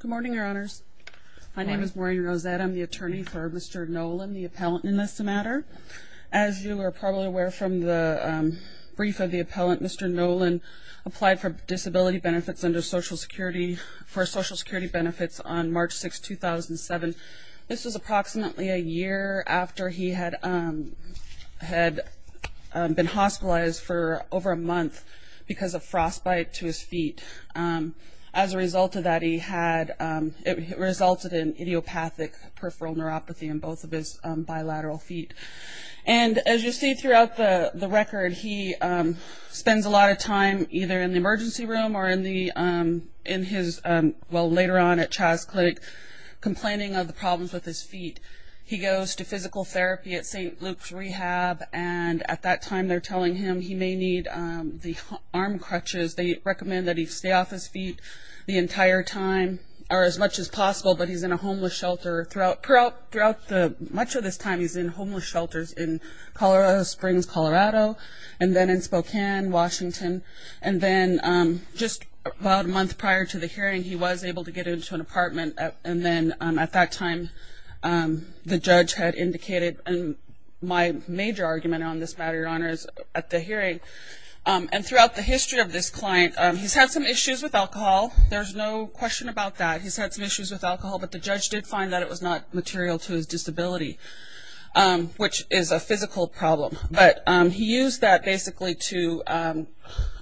Good morning, Your Honors. My name is Maureen Rosette. I'm the attorney for Mr. Nollen, the appellant in this matter. As you are probably aware from the brief of the appellant, Mr. Nollen applied for disability benefits under Social Security for Social Security benefits on March 6, 2007. This was approximately a year after he had been hospitalized for over a month because of frostbite to his feet. As a result of that, it resulted in idiopathic peripheral neuropathy in both of his bilateral feet. And as you see throughout the record, he spends a lot of time either in the emergency room or later on at Chas Clinic complaining of the problems with his feet. He goes to physical therapy at St. Luke's Rehab, and at that time they're telling him he may need the arm crutches. They recommend that he stay off his feet the entire time, or as much as possible, but he's in a homeless shelter throughout much of this time. He's in homeless shelters in Colorado Springs, Colorado, and then in Spokane, Washington. And then just about a month prior to the hearing, he was able to get into an apartment. And then at that time, the judge had indicated, and my major argument on this matter, Your Honor, is at the hearing, and throughout the history of this client, he's had some issues with alcohol. There's no question about that. He's had some issues with alcohol, but the judge did find that it was not material to his disability, which is a physical problem. But he used that basically to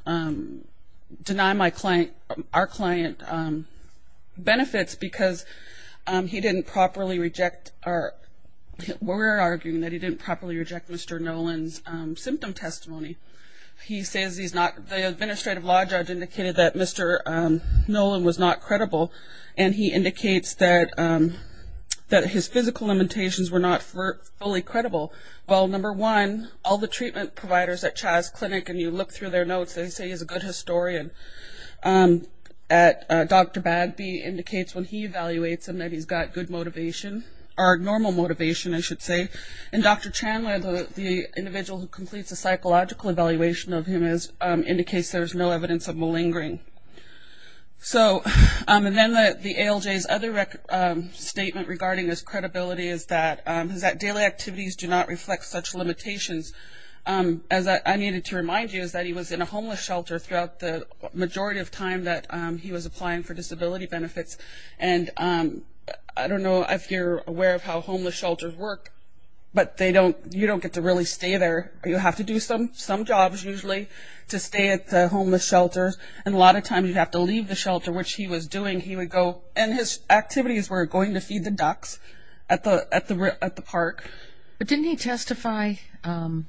deny our client benefits because he didn't properly reject, or we're arguing that he didn't properly reject Mr. Nolan's symptom testimony. He says the administrative law judge indicated that Mr. Nolan was not credible, and he indicates that his physical limitations were not fully credible. Well, number one, all the treatment providers at Chas Clinic, and you look through their notes, they say he's a good historian. Dr. Bagby indicates when he evaluates him that he's got good motivation, or normal motivation, I should say. And Dr. Chandler, the individual who completes a psychological evaluation of him, indicates there's no evidence of malingering. And then the ALJ's other statement regarding his credibility is that daily activities do not reflect such limitations. As I needed to remind you is that he was in a homeless shelter throughout the majority of time that he was applying for disability benefits, and I don't know if you're aware of how homeless shelters work, but you don't get to really stay there. You have to do some jobs usually to stay at the homeless shelter, and a lot of times you have to leave the shelter, which he was doing. He would go, and his activities were going to feed the ducks at the park. But didn't he testify at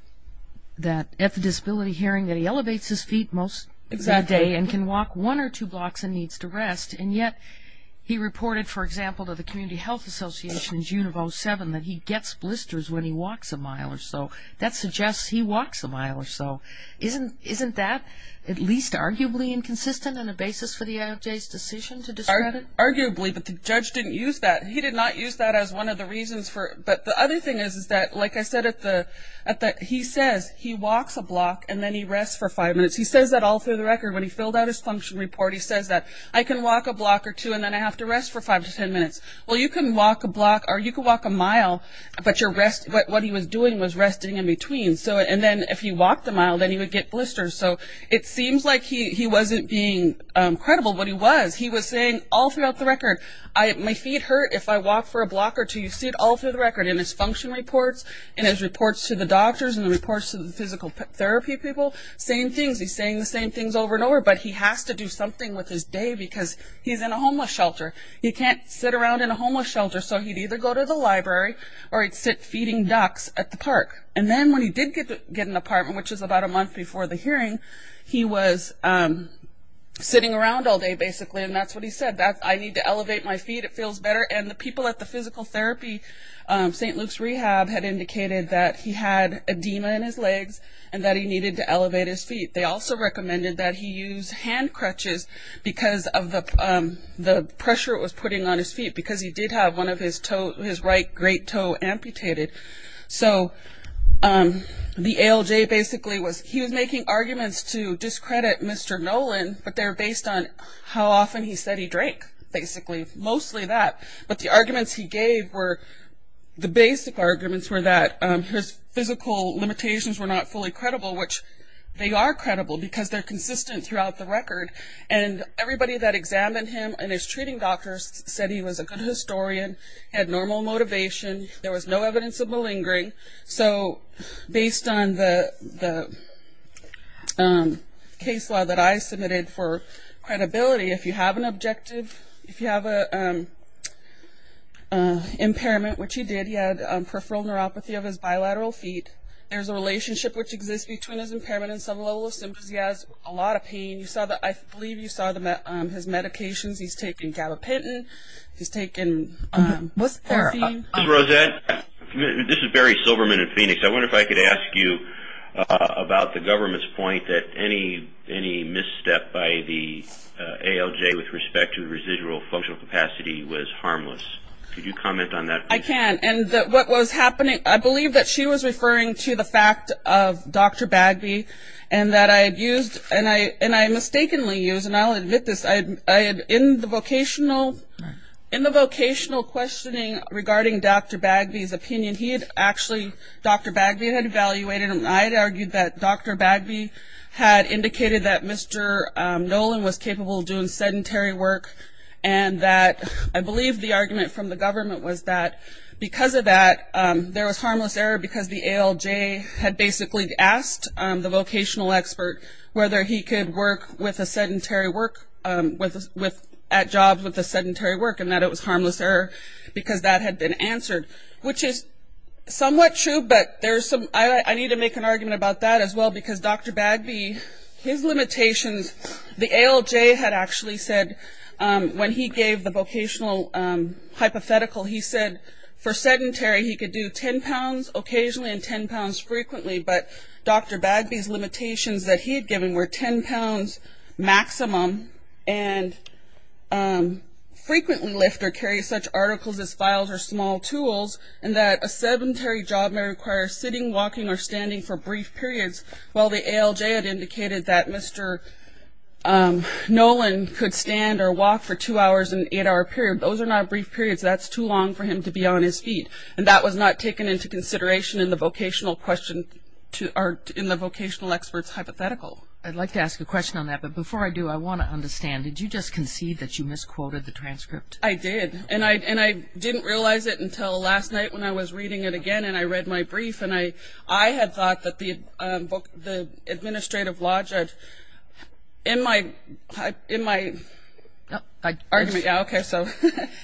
the disability hearing that he elevates his feet most of the day and can walk one or two blocks and needs to rest, and yet he reported, for example, to the Community Health Association in June of 2007 that he gets blisters when he walks a mile or so. That suggests he walks a mile or so. Isn't that at least arguably inconsistent and a basis for the ALJ's decision to discredit? Arguably, but the judge didn't use that. He did not use that as one of the reasons for it. But the other thing is that, like I said, he says he walks a block and then he rests for five minutes. He says that all through the record when he filled out his function report. He says that I can walk a block or two and then I have to rest for five to ten minutes. Well, you can walk a block or you can walk a mile, but what he was doing was resting in between. And then if he walked a mile, then he would get blisters. So it seems like he wasn't being credible, but he was. He was saying all throughout the record, my feet hurt if I walk for a block or two. You see it all through the record in his function reports, in his reports to the doctors, in the reports to the physical therapy people, same things. He's saying the same things over and over, but he has to do something with his day because he's in a homeless shelter. He can't sit around in a homeless shelter. So he'd either go to the library or he'd sit feeding ducks at the park. And then when he did get an apartment, which is about a month before the hearing, he was sitting around all day basically, and that's what he said. I need to elevate my feet. It feels better. And the people at the physical therapy, St. Luke's Rehab, had indicated that he had edema in his legs and that he needed to elevate his feet. They also recommended that he use hand crutches because of the pressure it was putting on his feet because he did have one of his right great toe amputated. So the ALJ basically was, he was making arguments to discredit Mr. Nolan, but they were based on how often he said he drank basically, mostly that. But the arguments he gave were, the basic arguments were that his physical limitations were not fully credible, which they are credible because they're consistent throughout the record. And everybody that examined him and his treating doctors said he was a good historian, had normal motivation, there was no evidence of malingering. So based on the case law that I submitted for credibility, if you have an objective, if you have an impairment, which he did, he had peripheral neuropathy of his bilateral feet. There's a relationship which exists between his impairment and some level of symptoms. He has a lot of pain. I believe you saw his medications. He's taken gabapentin. He's taken morphine. Ms. Rosette, this is Barry Silverman in Phoenix. I wonder if I could ask you about the government's point that any misstep by the ALJ with respect to residual functional capacity was harmless. Could you comment on that, please? I can. And what was happening, I believe that she was referring to the fact of Dr. Bagby and that I had used, and I mistakenly used, and I'll admit this, in the vocational questioning regarding Dr. Bagby's opinion, he had actually, Dr. Bagby had evaluated him. I had argued that Dr. Bagby had indicated that Mr. Nolan was capable of doing sedentary work and that I believe the argument from the government was that because of that, there was harmless error because the ALJ had basically asked the vocational expert whether he could work with a sedentary work, at jobs with a sedentary work, and that it was harmless error because that had been answered, which is somewhat true, but there's some, I need to make an argument about that as well because Dr. Bagby, his limitations, the ALJ had actually said when he gave the vocational hypothetical, he said for sedentary, he could do 10 pounds occasionally and 10 pounds frequently, but Dr. Bagby's limitations that he had given were 10 pounds maximum and frequently lift or carry such articles as files or small tools and that a sedentary job may require sitting, walking, or standing for brief periods, while the ALJ had indicated that Mr. Nolan could stand or walk for two hours and an eight-hour period. Those are not brief periods. That's too long for him to be on his feet, and that was not taken into consideration in the vocational question or in the vocational expert's hypothetical. I'd like to ask a question on that, but before I do, I want to understand. Did you just concede that you misquoted the transcript? I did, and I didn't realize it until last night when I was reading it again and I read my brief, and I had thought that the administrative law judge in my argument, yeah, okay, so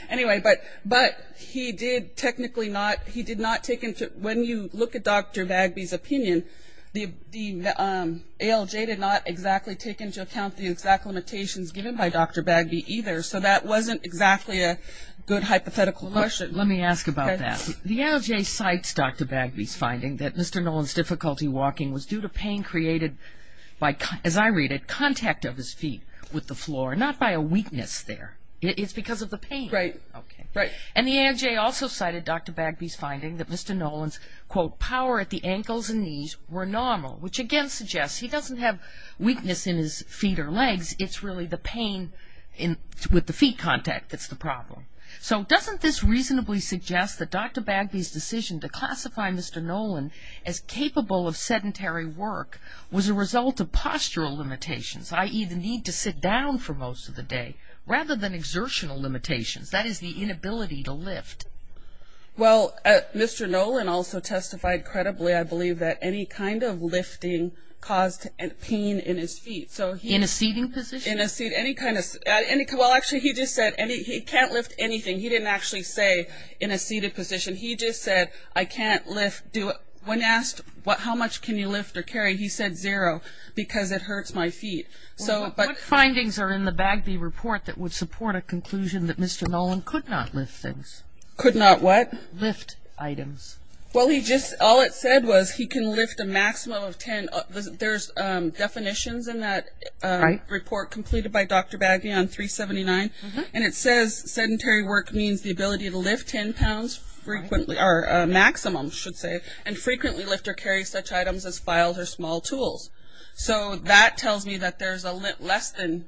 anyway, but he did technically not, he did not take into, when you look at Dr. Bagby's opinion, the ALJ did not exactly take into account the exact limitations given by Dr. Bagby either, so that wasn't exactly a good hypothetical question. Let me ask about that. The ALJ cites Dr. Bagby's finding that Mr. Nolan's difficulty walking was due to pain created by, as I read it, contact of his feet with the floor, not by a weakness there. It's because of the pain. Right, right. And the ALJ also cited Dr. Bagby's finding that Mr. Nolan's, quote, power at the ankles and knees were normal, which again suggests he doesn't have weakness in his feet or legs. It's really the pain with the feet contact that's the problem. So doesn't this reasonably suggest that Dr. Bagby's decision to classify Mr. Nolan as capable of sedentary work was a result of postural limitations, i.e., the need to sit down for most of the day, rather than exertional limitations, that is, the inability to lift? Well, Mr. Nolan also testified credibly, I believe, that any kind of lifting caused pain in his feet. In a seating position? Well, actually, he just said he can't lift anything. He didn't actually say in a seated position. He just said, I can't lift. When asked how much can you lift or carry, he said zero because it hurts my feet. What findings are in the Bagby report that would support a conclusion that Mr. Nolan could not lift things? Could not what? Lift items. Well, all it said was he can lift a maximum of ten. There's definitions in that report completed by Dr. Bagby on 379, and it says sedentary work means the ability to lift ten pounds, or a maximum, I should say, and frequently lift or carry such items as files or small tools. So that tells me that there's less than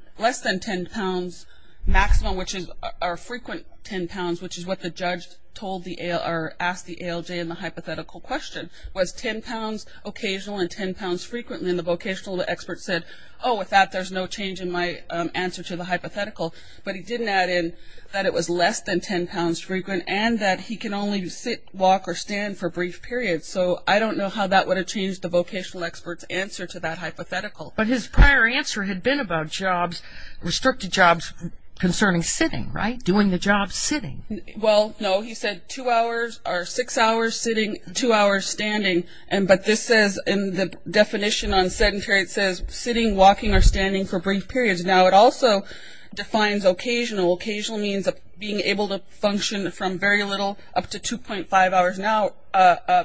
ten pounds maximum, which is our frequent ten pounds, which is what the judge asked the ALJ in the hypothetical question, was ten pounds occasional and ten pounds frequently. And the vocational expert said, oh, with that, there's no change in my answer to the hypothetical. But he didn't add in that it was less than ten pounds frequent and that he can only sit, walk, or stand for brief periods. So I don't know how that would have changed the vocational expert's answer to that hypothetical. But his prior answer had been about jobs, restricted jobs concerning sitting, right, doing the job sitting. Well, no, he said two hours or six hours sitting, two hours standing. But this says in the definition on sedentary, it says sitting, walking, or standing for brief periods. Now, it also defines occasional. Occasional means being able to function from very little up to 2.5 hours an hour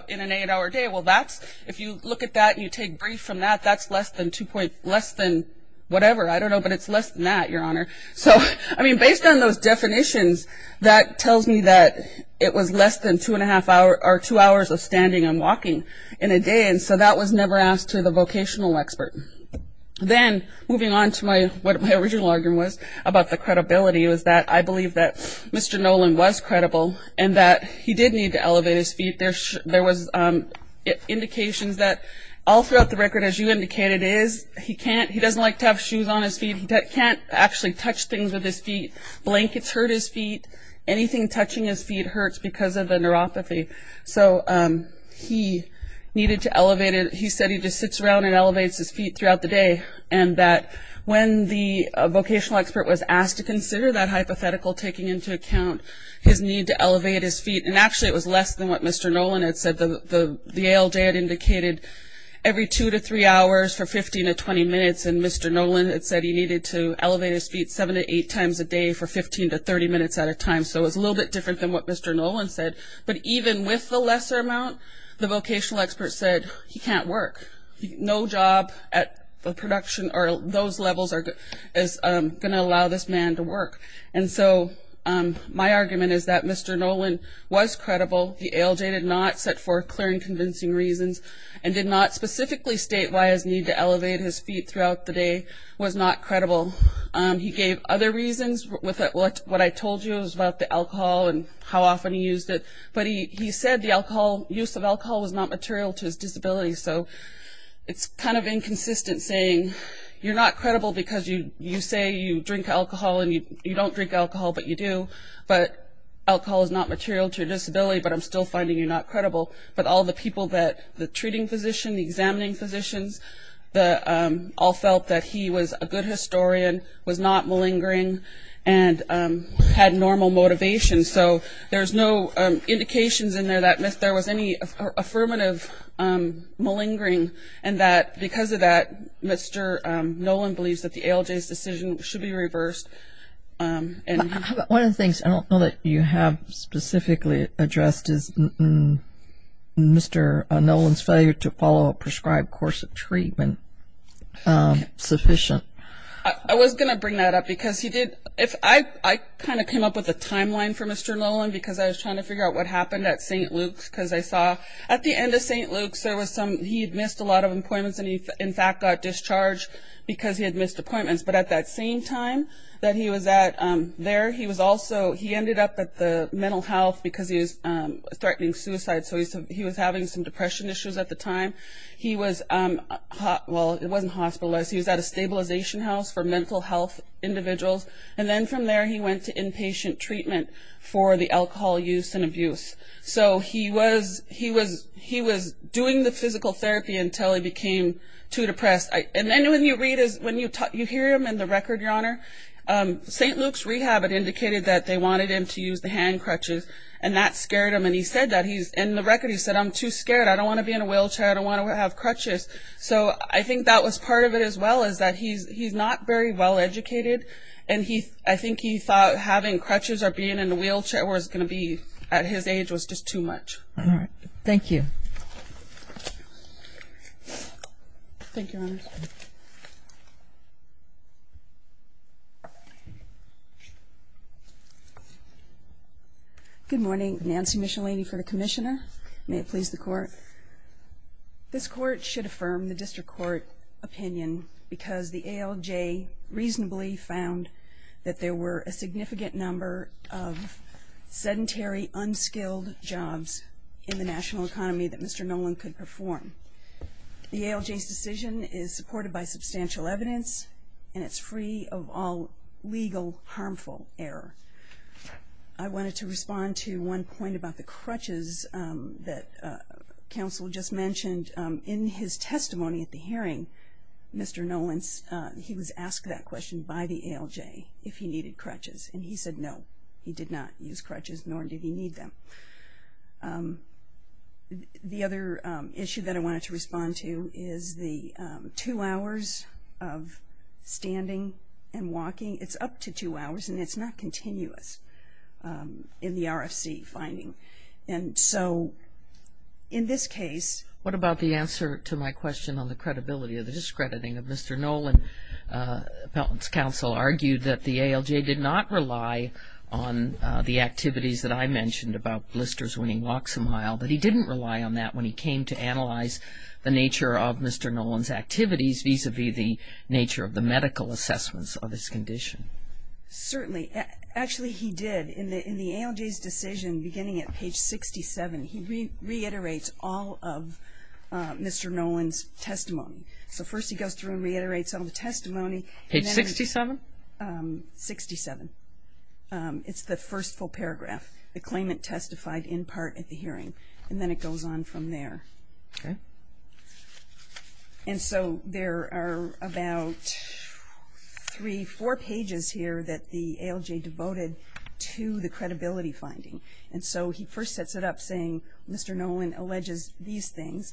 in an eight-hour day. Well, that's, if you look at that and you take brief from that, that's less than whatever. I don't know, but it's less than that, Your Honor. So, I mean, based on those definitions, that tells me that it was less than two and a half hour or two hours of standing and walking in a day. And so that was never asked to the vocational expert. Then, moving on to what my original argument was about the credibility, was that I believe that Mr. Nolan was credible and that he did need to elevate his feet. There was indications that all throughout the record, as you indicated, it is, he can't, he doesn't like to have shoes on his feet, can't actually touch things with his feet. Blankets hurt his feet. Anything touching his feet hurts because of the neuropathy. So he needed to elevate it. He said he just sits around and elevates his feet throughout the day and that when the vocational expert was asked to consider that hypothetical, taking into account his need to elevate his feet, and actually it was less than what Mr. Nolan had said. The ALJ had indicated every two to three hours for 15 to 20 minutes and Mr. Nolan had said he needed to elevate his feet seven to eight times a day for 15 to 30 minutes at a time. So it was a little bit different than what Mr. Nolan said. But even with the lesser amount, the vocational expert said he can't work. No job at the production or those levels is going to allow this man to work. And so my argument is that Mr. Nolan was credible. The ALJ did not set forth clear and convincing reasons and did not specifically state why his need to elevate his feet throughout the day was not credible. He gave other reasons. What I told you is about the alcohol and how often he used it. But he said the use of alcohol was not material to his disability. So it's kind of inconsistent saying you're not credible because you say you drink alcohol and you don't drink alcohol, but you do. But alcohol is not material to your disability, but I'm still finding you not credible. But all the people that, the treating physician, the examining physicians, all felt that he was a good historian, was not malingering, and had normal motivation. So there's no indications in there that there was any affirmative malingering and that because of that, Mr. Nolan believes that the ALJ's decision should be reversed. One of the things I don't know that you have specifically addressed is Mr. Nolan's failure to follow a prescribed course of treatment sufficient. I was going to bring that up because he did, I kind of came up with a timeline for Mr. Nolan because I was trying to figure out what happened at St. Luke's because I saw at the end of St. Luke's there was some, he had missed a lot of appointments and he in fact got discharged because he had missed appointments. But at that same time that he was at there, he was also, he ended up at the mental health because he was threatening suicide. So he was having some depression issues at the time. He was, well, it wasn't hospitalized. He was at a stabilization house for mental health individuals. And then from there he went to inpatient treatment for the alcohol use and abuse. So he was doing the physical therapy until he became too depressed. And then when you read, when you hear him in the record, Your Honor, St. Luke's rehab had indicated that they wanted him to use the hand crutches and that scared him and he said that, in the record he said, I'm too scared, I don't want to be in a wheelchair, I don't want to have crutches. So I think that was part of it as well is that he's not very well educated and I think he thought having crutches or being in a wheelchair was going to be at his age was just too much. All right, thank you. Thank you, Your Honor. Good morning. Nancy Michelini for the Commissioner. May it please the Court. This Court should affirm the District Court opinion because the ALJ reasonably found that there were a significant number of sedentary, unskilled jobs in the national economy that Mr. Nolan could perform. The ALJ's decision is supported by substantial evidence and it's free of all legal harmful error. I wanted to respond to one point about the crutches that counsel just mentioned. In his testimony at the hearing, Mr. Nolan, he was asked that question by the ALJ if he needed crutches and he said no, he did not use crutches, nor did he need them. The other issue that I wanted to respond to is the two hours of standing and walking, it's up to two hours and it's not continuous in the RFC finding. And so in this case... What about the answer to my question on the credibility of the discrediting of Mr. Nolan, Pelton's counsel argued that the ALJ did not rely on the activities that I mentioned about blisters when he walks a mile, but he didn't rely on that when he came to analyze the nature of Mr. Nolan's activities vis-à-vis the nature of the medical assessments of his condition. Certainly. Actually, he did. In the ALJ's decision beginning at page 67, he reiterates all of Mr. Nolan's testimony. So first he goes through and reiterates all of the testimony. Page 67? 67. It's the first full paragraph, the claimant testified in part at the hearing, and then it goes on from there. Okay. And so there are about three, four pages here that the ALJ devoted to the credibility finding. And so he first sets it up saying, Mr. Nolan alleges these things,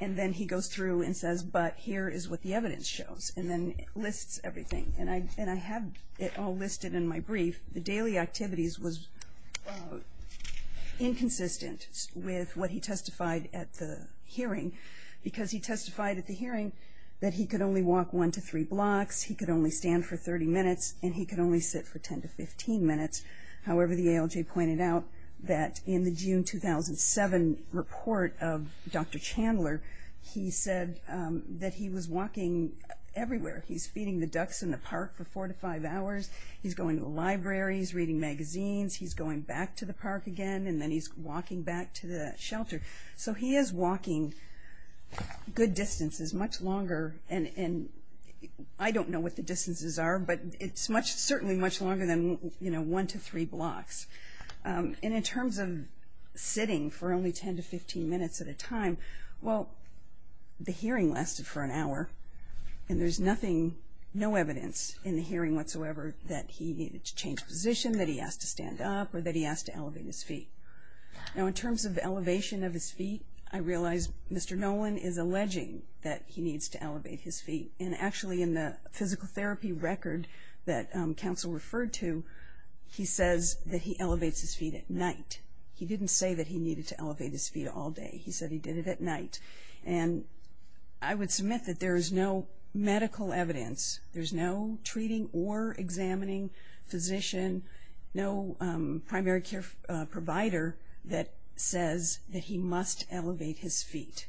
and then he goes through and says, but here is what the evidence shows, and then lists everything. And I have it all listed in my brief. The daily activities was inconsistent with what he testified at the hearing, because he testified at the hearing that he could only walk one to three blocks, he could only stand for 30 minutes, and he could only sit for 10 to 15 minutes. However, the ALJ pointed out that in the June 2007 report of Dr. Chandler, he said that he was walking everywhere. He's feeding the ducks in the park for four to five hours. He's going to libraries, reading magazines. He's going back to the park again, and then he's walking back to the shelter. So he is walking good distances, much longer, and I don't know what the distances are, but it's certainly much longer than, you know, one to three blocks. And in terms of sitting for only 10 to 15 minutes at a time, well, the hearing lasted for an hour, and there's nothing, no evidence in the hearing whatsoever that he needed to change position, that he asked to stand up, or that he asked to elevate his feet. Now in terms of elevation of his feet, I realize Mr. Nolan is alleging that he needs to elevate his feet. And actually, in the physical therapy record that counsel referred to, he says that he elevates his feet at night. He didn't say that he needed to elevate his feet all day. He said he did it at night. And I would submit that there is no medical evidence, there's no treating or examining physician, no primary care provider that says that he must elevate his feet.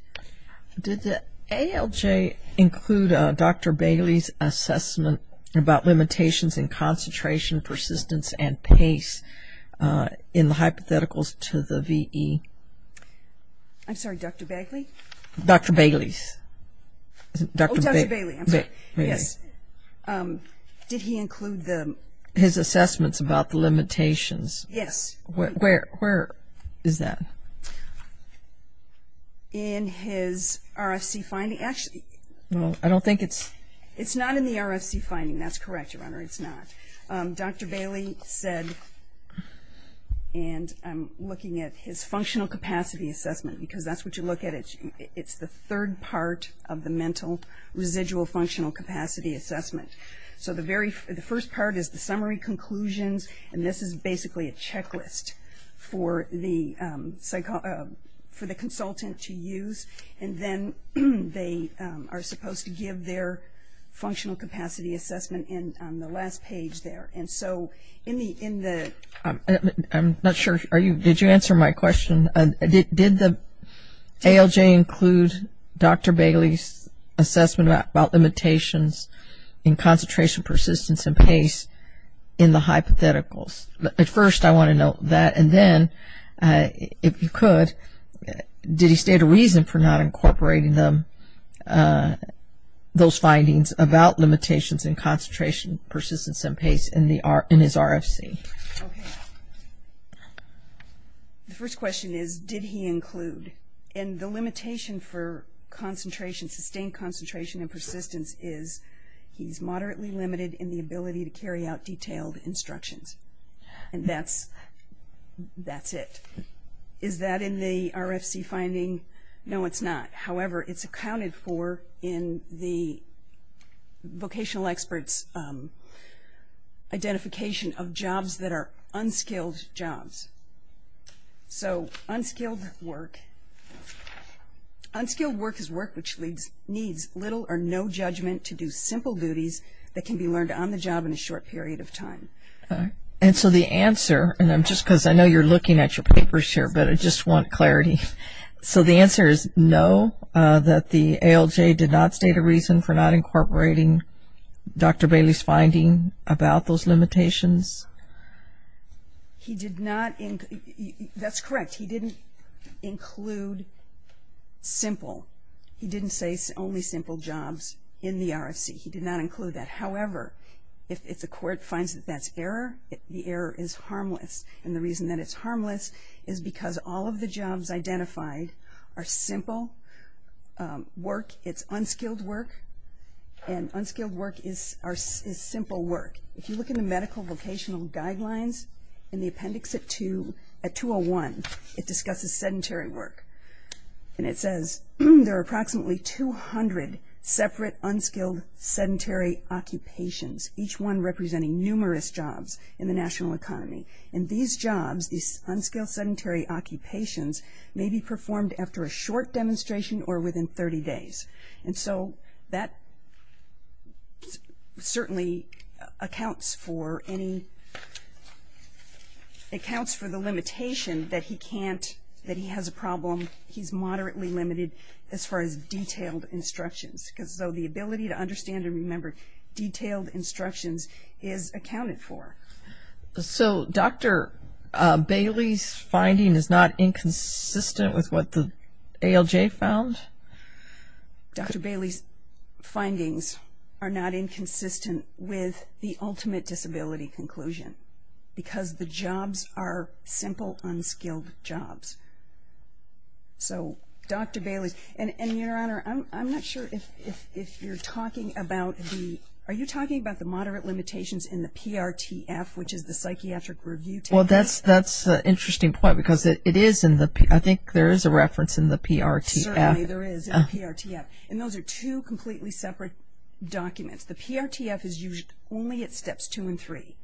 Did the ALJ include Dr. Bailey's assessment about limitations in concentration, persistence, and pace in the hypotheticals to the VE? I'm sorry, Dr. Bagley? Dr. Bailey's. Oh, Dr. Bailey, I'm sorry. Yes. Did he include the – His assessments about the limitations. Yes. Where is that? In his RFC finding. Actually – Well, I don't think it's – It's not in the RFC finding. That's correct, Your Honor, it's not. Dr. Bailey said, and I'm looking at his functional capacity assessment, because that's what you look at. It's the third part of the mental residual functional capacity assessment. So the first part is the summary conclusions, and this is basically a checklist for the consultant to use, and then they are supposed to give their functional capacity assessment on the last page there. And so in the – I'm not sure, did you answer my question? Did the ALJ include Dr. Bailey's assessment about limitations in concentration, persistence, and pace in the hypotheticals? First, I want to note that, and then, if you could, did he state a reason for not incorporating those findings about limitations in concentration, persistence, and pace in his RFC? Okay. The first question is, did he include? And the limitation for concentration, sustained concentration, and persistence is he's moderately limited in the ability to carry out detailed instructions. And that's it. Is that in the RFC finding? No, it's not. However, it's accounted for in the vocational expert's identification of jobs that are unskilled jobs. So unskilled work. Unskilled work is work which needs little or no judgment to do simple duties that can be learned on the job in a short period of time. And so the answer, and I'm just – because I know you're looking at your papers here, but I just want clarity. So the answer is no, that the ALJ did not state a reason for not incorporating Dr. Bailey's finding about those limitations? He did not – that's correct. He didn't include simple. He didn't say only simple jobs in the RFC. He did not include that. However, if the court finds that that's error, the error is harmless. And the reason that it's harmless is because all of the jobs identified are simple work. It's unskilled work, and unskilled work is simple work. If you look in the medical vocational guidelines in the appendix at 201, it discusses sedentary work. And it says there are approximately 200 separate unskilled sedentary occupations, each one representing numerous jobs in the national economy. And these jobs, these unskilled sedentary occupations, may be performed after a short demonstration or within 30 days. And so that certainly accounts for any – accounts for the limitation that he can't – that he has a problem. He's moderately limited as far as detailed instructions. So the ability to understand and remember detailed instructions is accounted for. So Dr. Bailey's finding is not inconsistent with what the ALJ found? Dr. Bailey's findings are not inconsistent with the ultimate disability conclusion because the jobs are simple, unskilled jobs. So Dr. Bailey's – and, Your Honor, I'm not sure if you're talking about the – Well, that's an interesting point because it is in the – I think there is a reference in the PRTF. Certainly there is in the PRTF. And those are two completely separate documents. The PRTF is used only at steps two and three.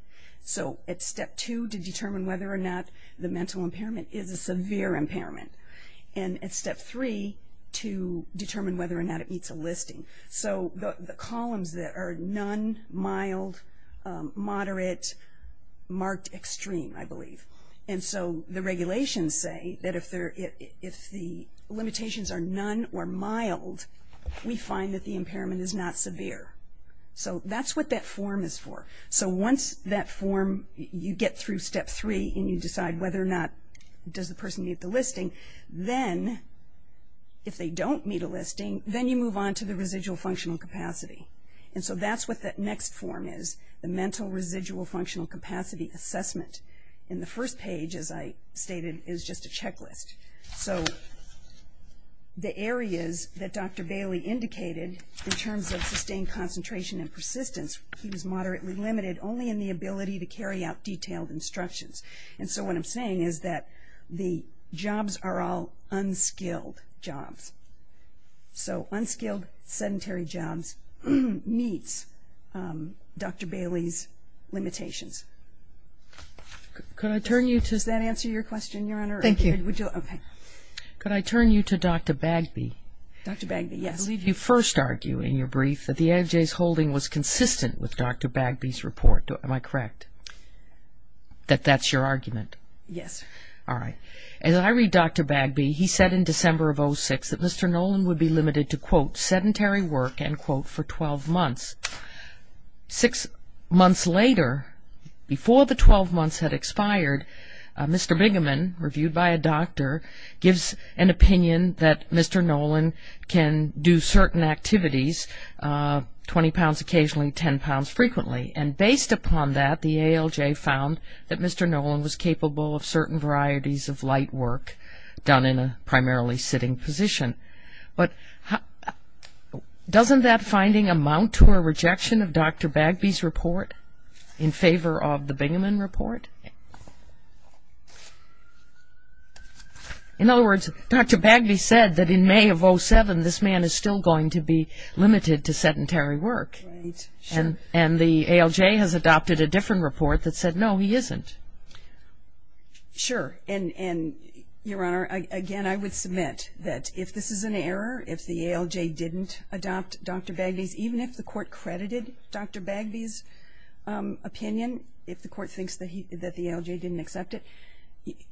So at step two to determine whether or not the mental impairment is a severe impairment. So the columns that are none, mild, moderate, marked extreme, I believe. And so the regulations say that if the limitations are none or mild, we find that the impairment is not severe. So that's what that form is for. So once that form – you get through step three and you decide whether or not does the person meet the listing, then if they don't meet a listing, then you move on to the residual functional capacity. And so that's what that next form is, the mental residual functional capacity assessment. And the first page, as I stated, is just a checklist. So the areas that Dr. Bailey indicated in terms of sustained concentration and persistence, he was moderately limited only in the ability to carry out detailed instructions. And so what I'm saying is that the jobs are all unskilled jobs. So unskilled, sedentary jobs meets Dr. Bailey's limitations. Does that answer your question, Your Honor? Thank you. Could I turn you to Dr. Bagby? Dr. Bagby, yes. You first argue in your brief that the AFJ's holding was consistent with Dr. Bagby's report. Am I correct? That that's your argument? Yes. All right. As I read Dr. Bagby, he said in December of 2006 that Mr. Nolan would be limited to, quote, sedentary work, end quote, for 12 months. Six months later, before the 12 months had expired, Mr. Bigaman, reviewed by a doctor, gives an opinion that Mr. Nolan can do certain activities, 20 pounds occasionally, 10 pounds frequently. And based upon that, the ALJ found that Mr. Nolan was capable of certain varieties of light work done in a primarily sitting position. But doesn't that finding amount to a rejection of Dr. Bagby's report in favor of the Bigaman report? In other words, Dr. Bagby said that in May of 2007, this man is still going to be limited to sedentary work. Right. And the ALJ has adopted a different report that said, no, he isn't. Sure. And, Your Honor, again, I would submit that if this is an error, if the ALJ didn't adopt Dr. Bagby's, even if the court credited Dr. Bagby's opinion, if the court thinks that the ALJ didn't accept it,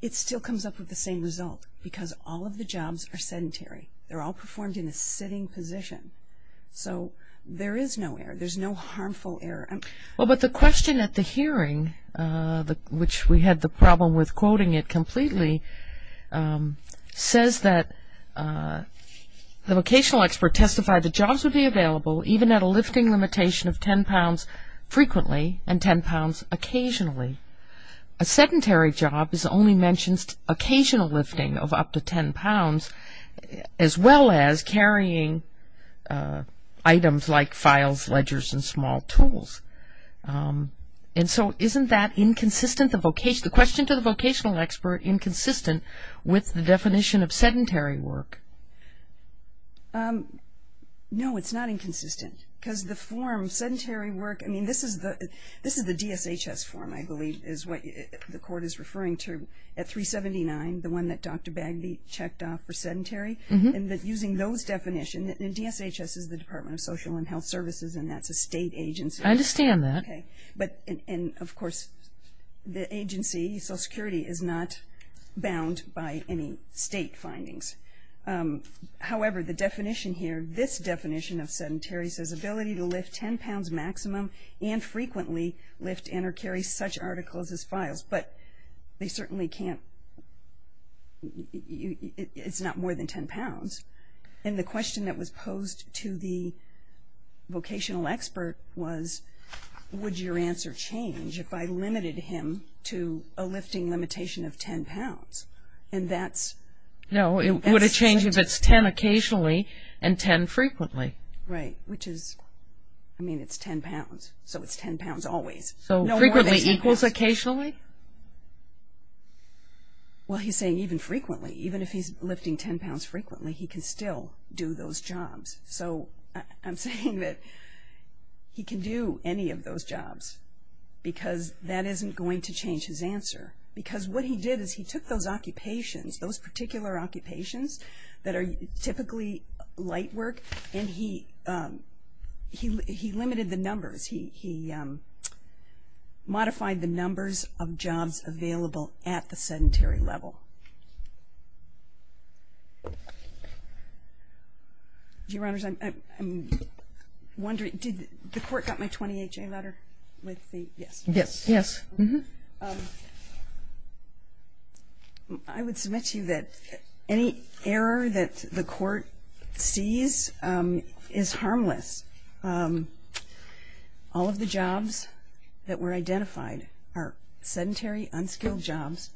it still comes up with the same result because all of the jobs are sedentary. They're all performed in a sitting position. So there is no error. There's no harmful error. Well, but the question at the hearing, which we had the problem with quoting it completely, says that the vocational expert testified that jobs would be available even at a lifting limitation of 10 pounds frequently and 10 pounds occasionally. A sedentary job is only mentioned as occasional lifting of up to 10 pounds, as well as carrying items like files, ledgers, and small tools. And so isn't that inconsistent, the question to the vocational expert inconsistent with the definition of sedentary work? No, it's not inconsistent because the form sedentary work, I mean, this is the DSHS form, I believe, is what the court is referring to at 379, the one that Dr. Bagby checked off for sedentary. And using those definitions, and DSHS is the Department of Social and Health Services, and that's a state agency. I understand that. Okay. And, of course, the agency, Social Security, is not bound by any state findings. However, the definition here, this definition of sedentary says ability to lift 10 pounds maximum and frequently lift and or carry such articles as files. But they certainly can't – it's not more than 10 pounds. And the question that was posed to the vocational expert was, would your answer change if I limited him to a lifting limitation of 10 pounds? And that's – No, it would have changed if it's 10 occasionally and 10 frequently. Right, which is – I mean, it's 10 pounds, so it's 10 pounds always. So frequently equals occasionally? Well, he's saying even frequently. Even if he's lifting 10 pounds frequently, he can still do those jobs. So I'm saying that he can do any of those jobs because that isn't going to change his answer. Because what he did is he took those occupations, those particular occupations, that are typically light work, and he limited the numbers. He modified the numbers of jobs available at the sedentary level. Your Honors, I'm wondering, did the court get my 20HA letter with the – yes. Yes. Yes. Mm-hmm. I would submit to you that any error that the court sees is harmless. All of the jobs that were identified are sedentary, unskilled jobs.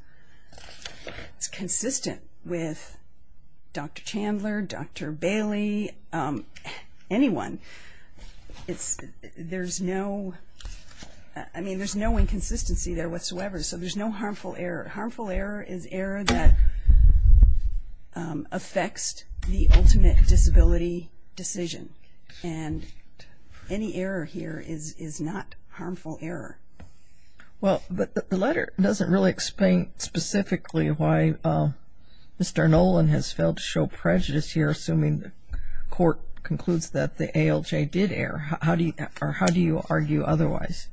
It's consistent with Dr. Chandler, Dr. Bailey, anyone. It's – there's no – I mean, there's no inconsistency there whatsoever. So there's no harmful error. Harmful error is error that affects the ultimate disability decision. And any error here is not harmful error. Well, but the letter doesn't really explain specifically why Mr. Nolan has failed to show prejudice here, assuming the court concludes that the ALJ did err. How do you argue otherwise?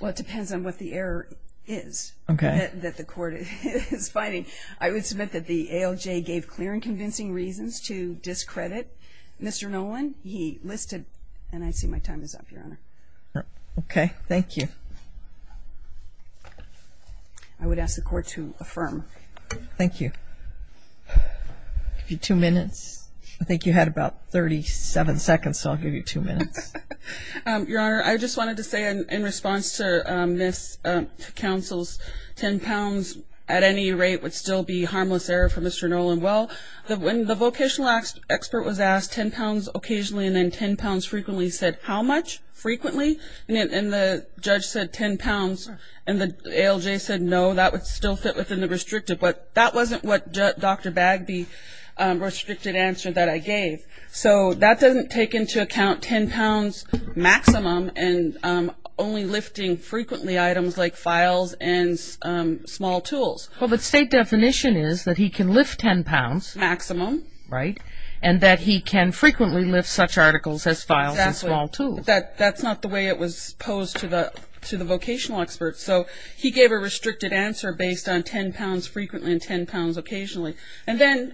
Well, it depends on what the error is that the court is finding. I would submit that the ALJ gave clear and convincing reasons to discredit Mr. Nolan. He listed – and I see my time is up, Your Honor. Okay. Thank you. I would ask the court to affirm. Thank you. I'll give you two minutes. I think you had about 37 seconds, so I'll give you two minutes. Your Honor, I just wanted to say in response to Ms. Counsel's 10 pounds at any rate would still be harmless error for Mr. Nolan. Well, when the vocational expert was asked 10 pounds occasionally and then 10 pounds frequently, he said, how much frequently? And the judge said 10 pounds, and the ALJ said no, that would still fit within the restrictive. But that wasn't what Dr. Bagby restricted answer that I gave. So that doesn't take into account 10 pounds maximum and only lifting frequently items like files and small tools. Well, the state definition is that he can lift 10 pounds. Maximum. Right. And that he can frequently lift such articles as files and small tools. Exactly. But that's not the way it was posed to the vocational expert. So he gave a restricted answer based on 10 pounds frequently and 10 pounds occasionally. And then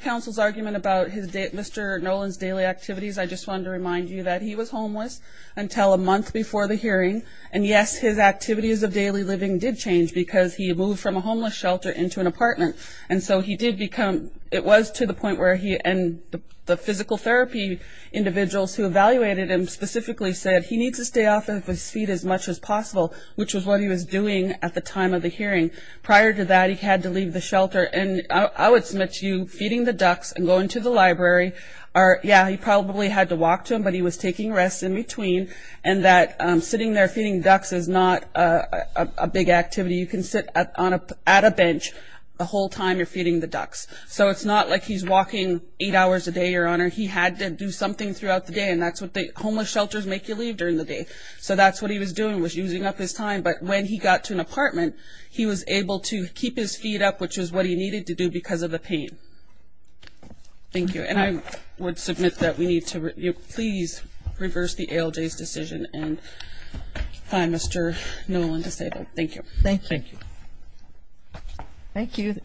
Counsel's argument about Mr. Nolan's daily activities, I just wanted to remind you that he was homeless until a month before the hearing. And, yes, his activities of daily living did change because he moved from a homeless shelter into an apartment. And so he did become – it was to the point where he – and the physical therapy individuals who evaluated him specifically said, he needs to stay off of his feet as much as possible, which was what he was doing at the time of the hearing. Prior to that, he had to leave the shelter. And I would submit to you feeding the ducks and going to the library are – yeah, he probably had to walk to them, but he was taking rests in between. And that sitting there feeding ducks is not a big activity. You can sit at a bench the whole time you're feeding the ducks. So it's not like he's walking eight hours a day, Your Honor. He had to do something throughout the day. And that's what they – homeless shelters make you leave during the day. So that's what he was doing was using up his time. But when he got to an apartment, he was able to keep his feet up, which is what he needed to do because of the pain. Thank you. And I would submit that we need to please reverse the ALJ's decision and find Mr. Nolan to say that. Thank you. Thank you. Thank you. The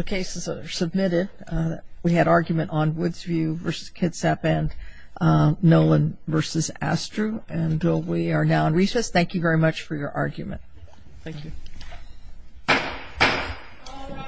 cases are submitted. We had argument on Woodsview v. Kitsap and Nolan v. Astru. And we are now in recess. Thank you very much for your argument. Thank you.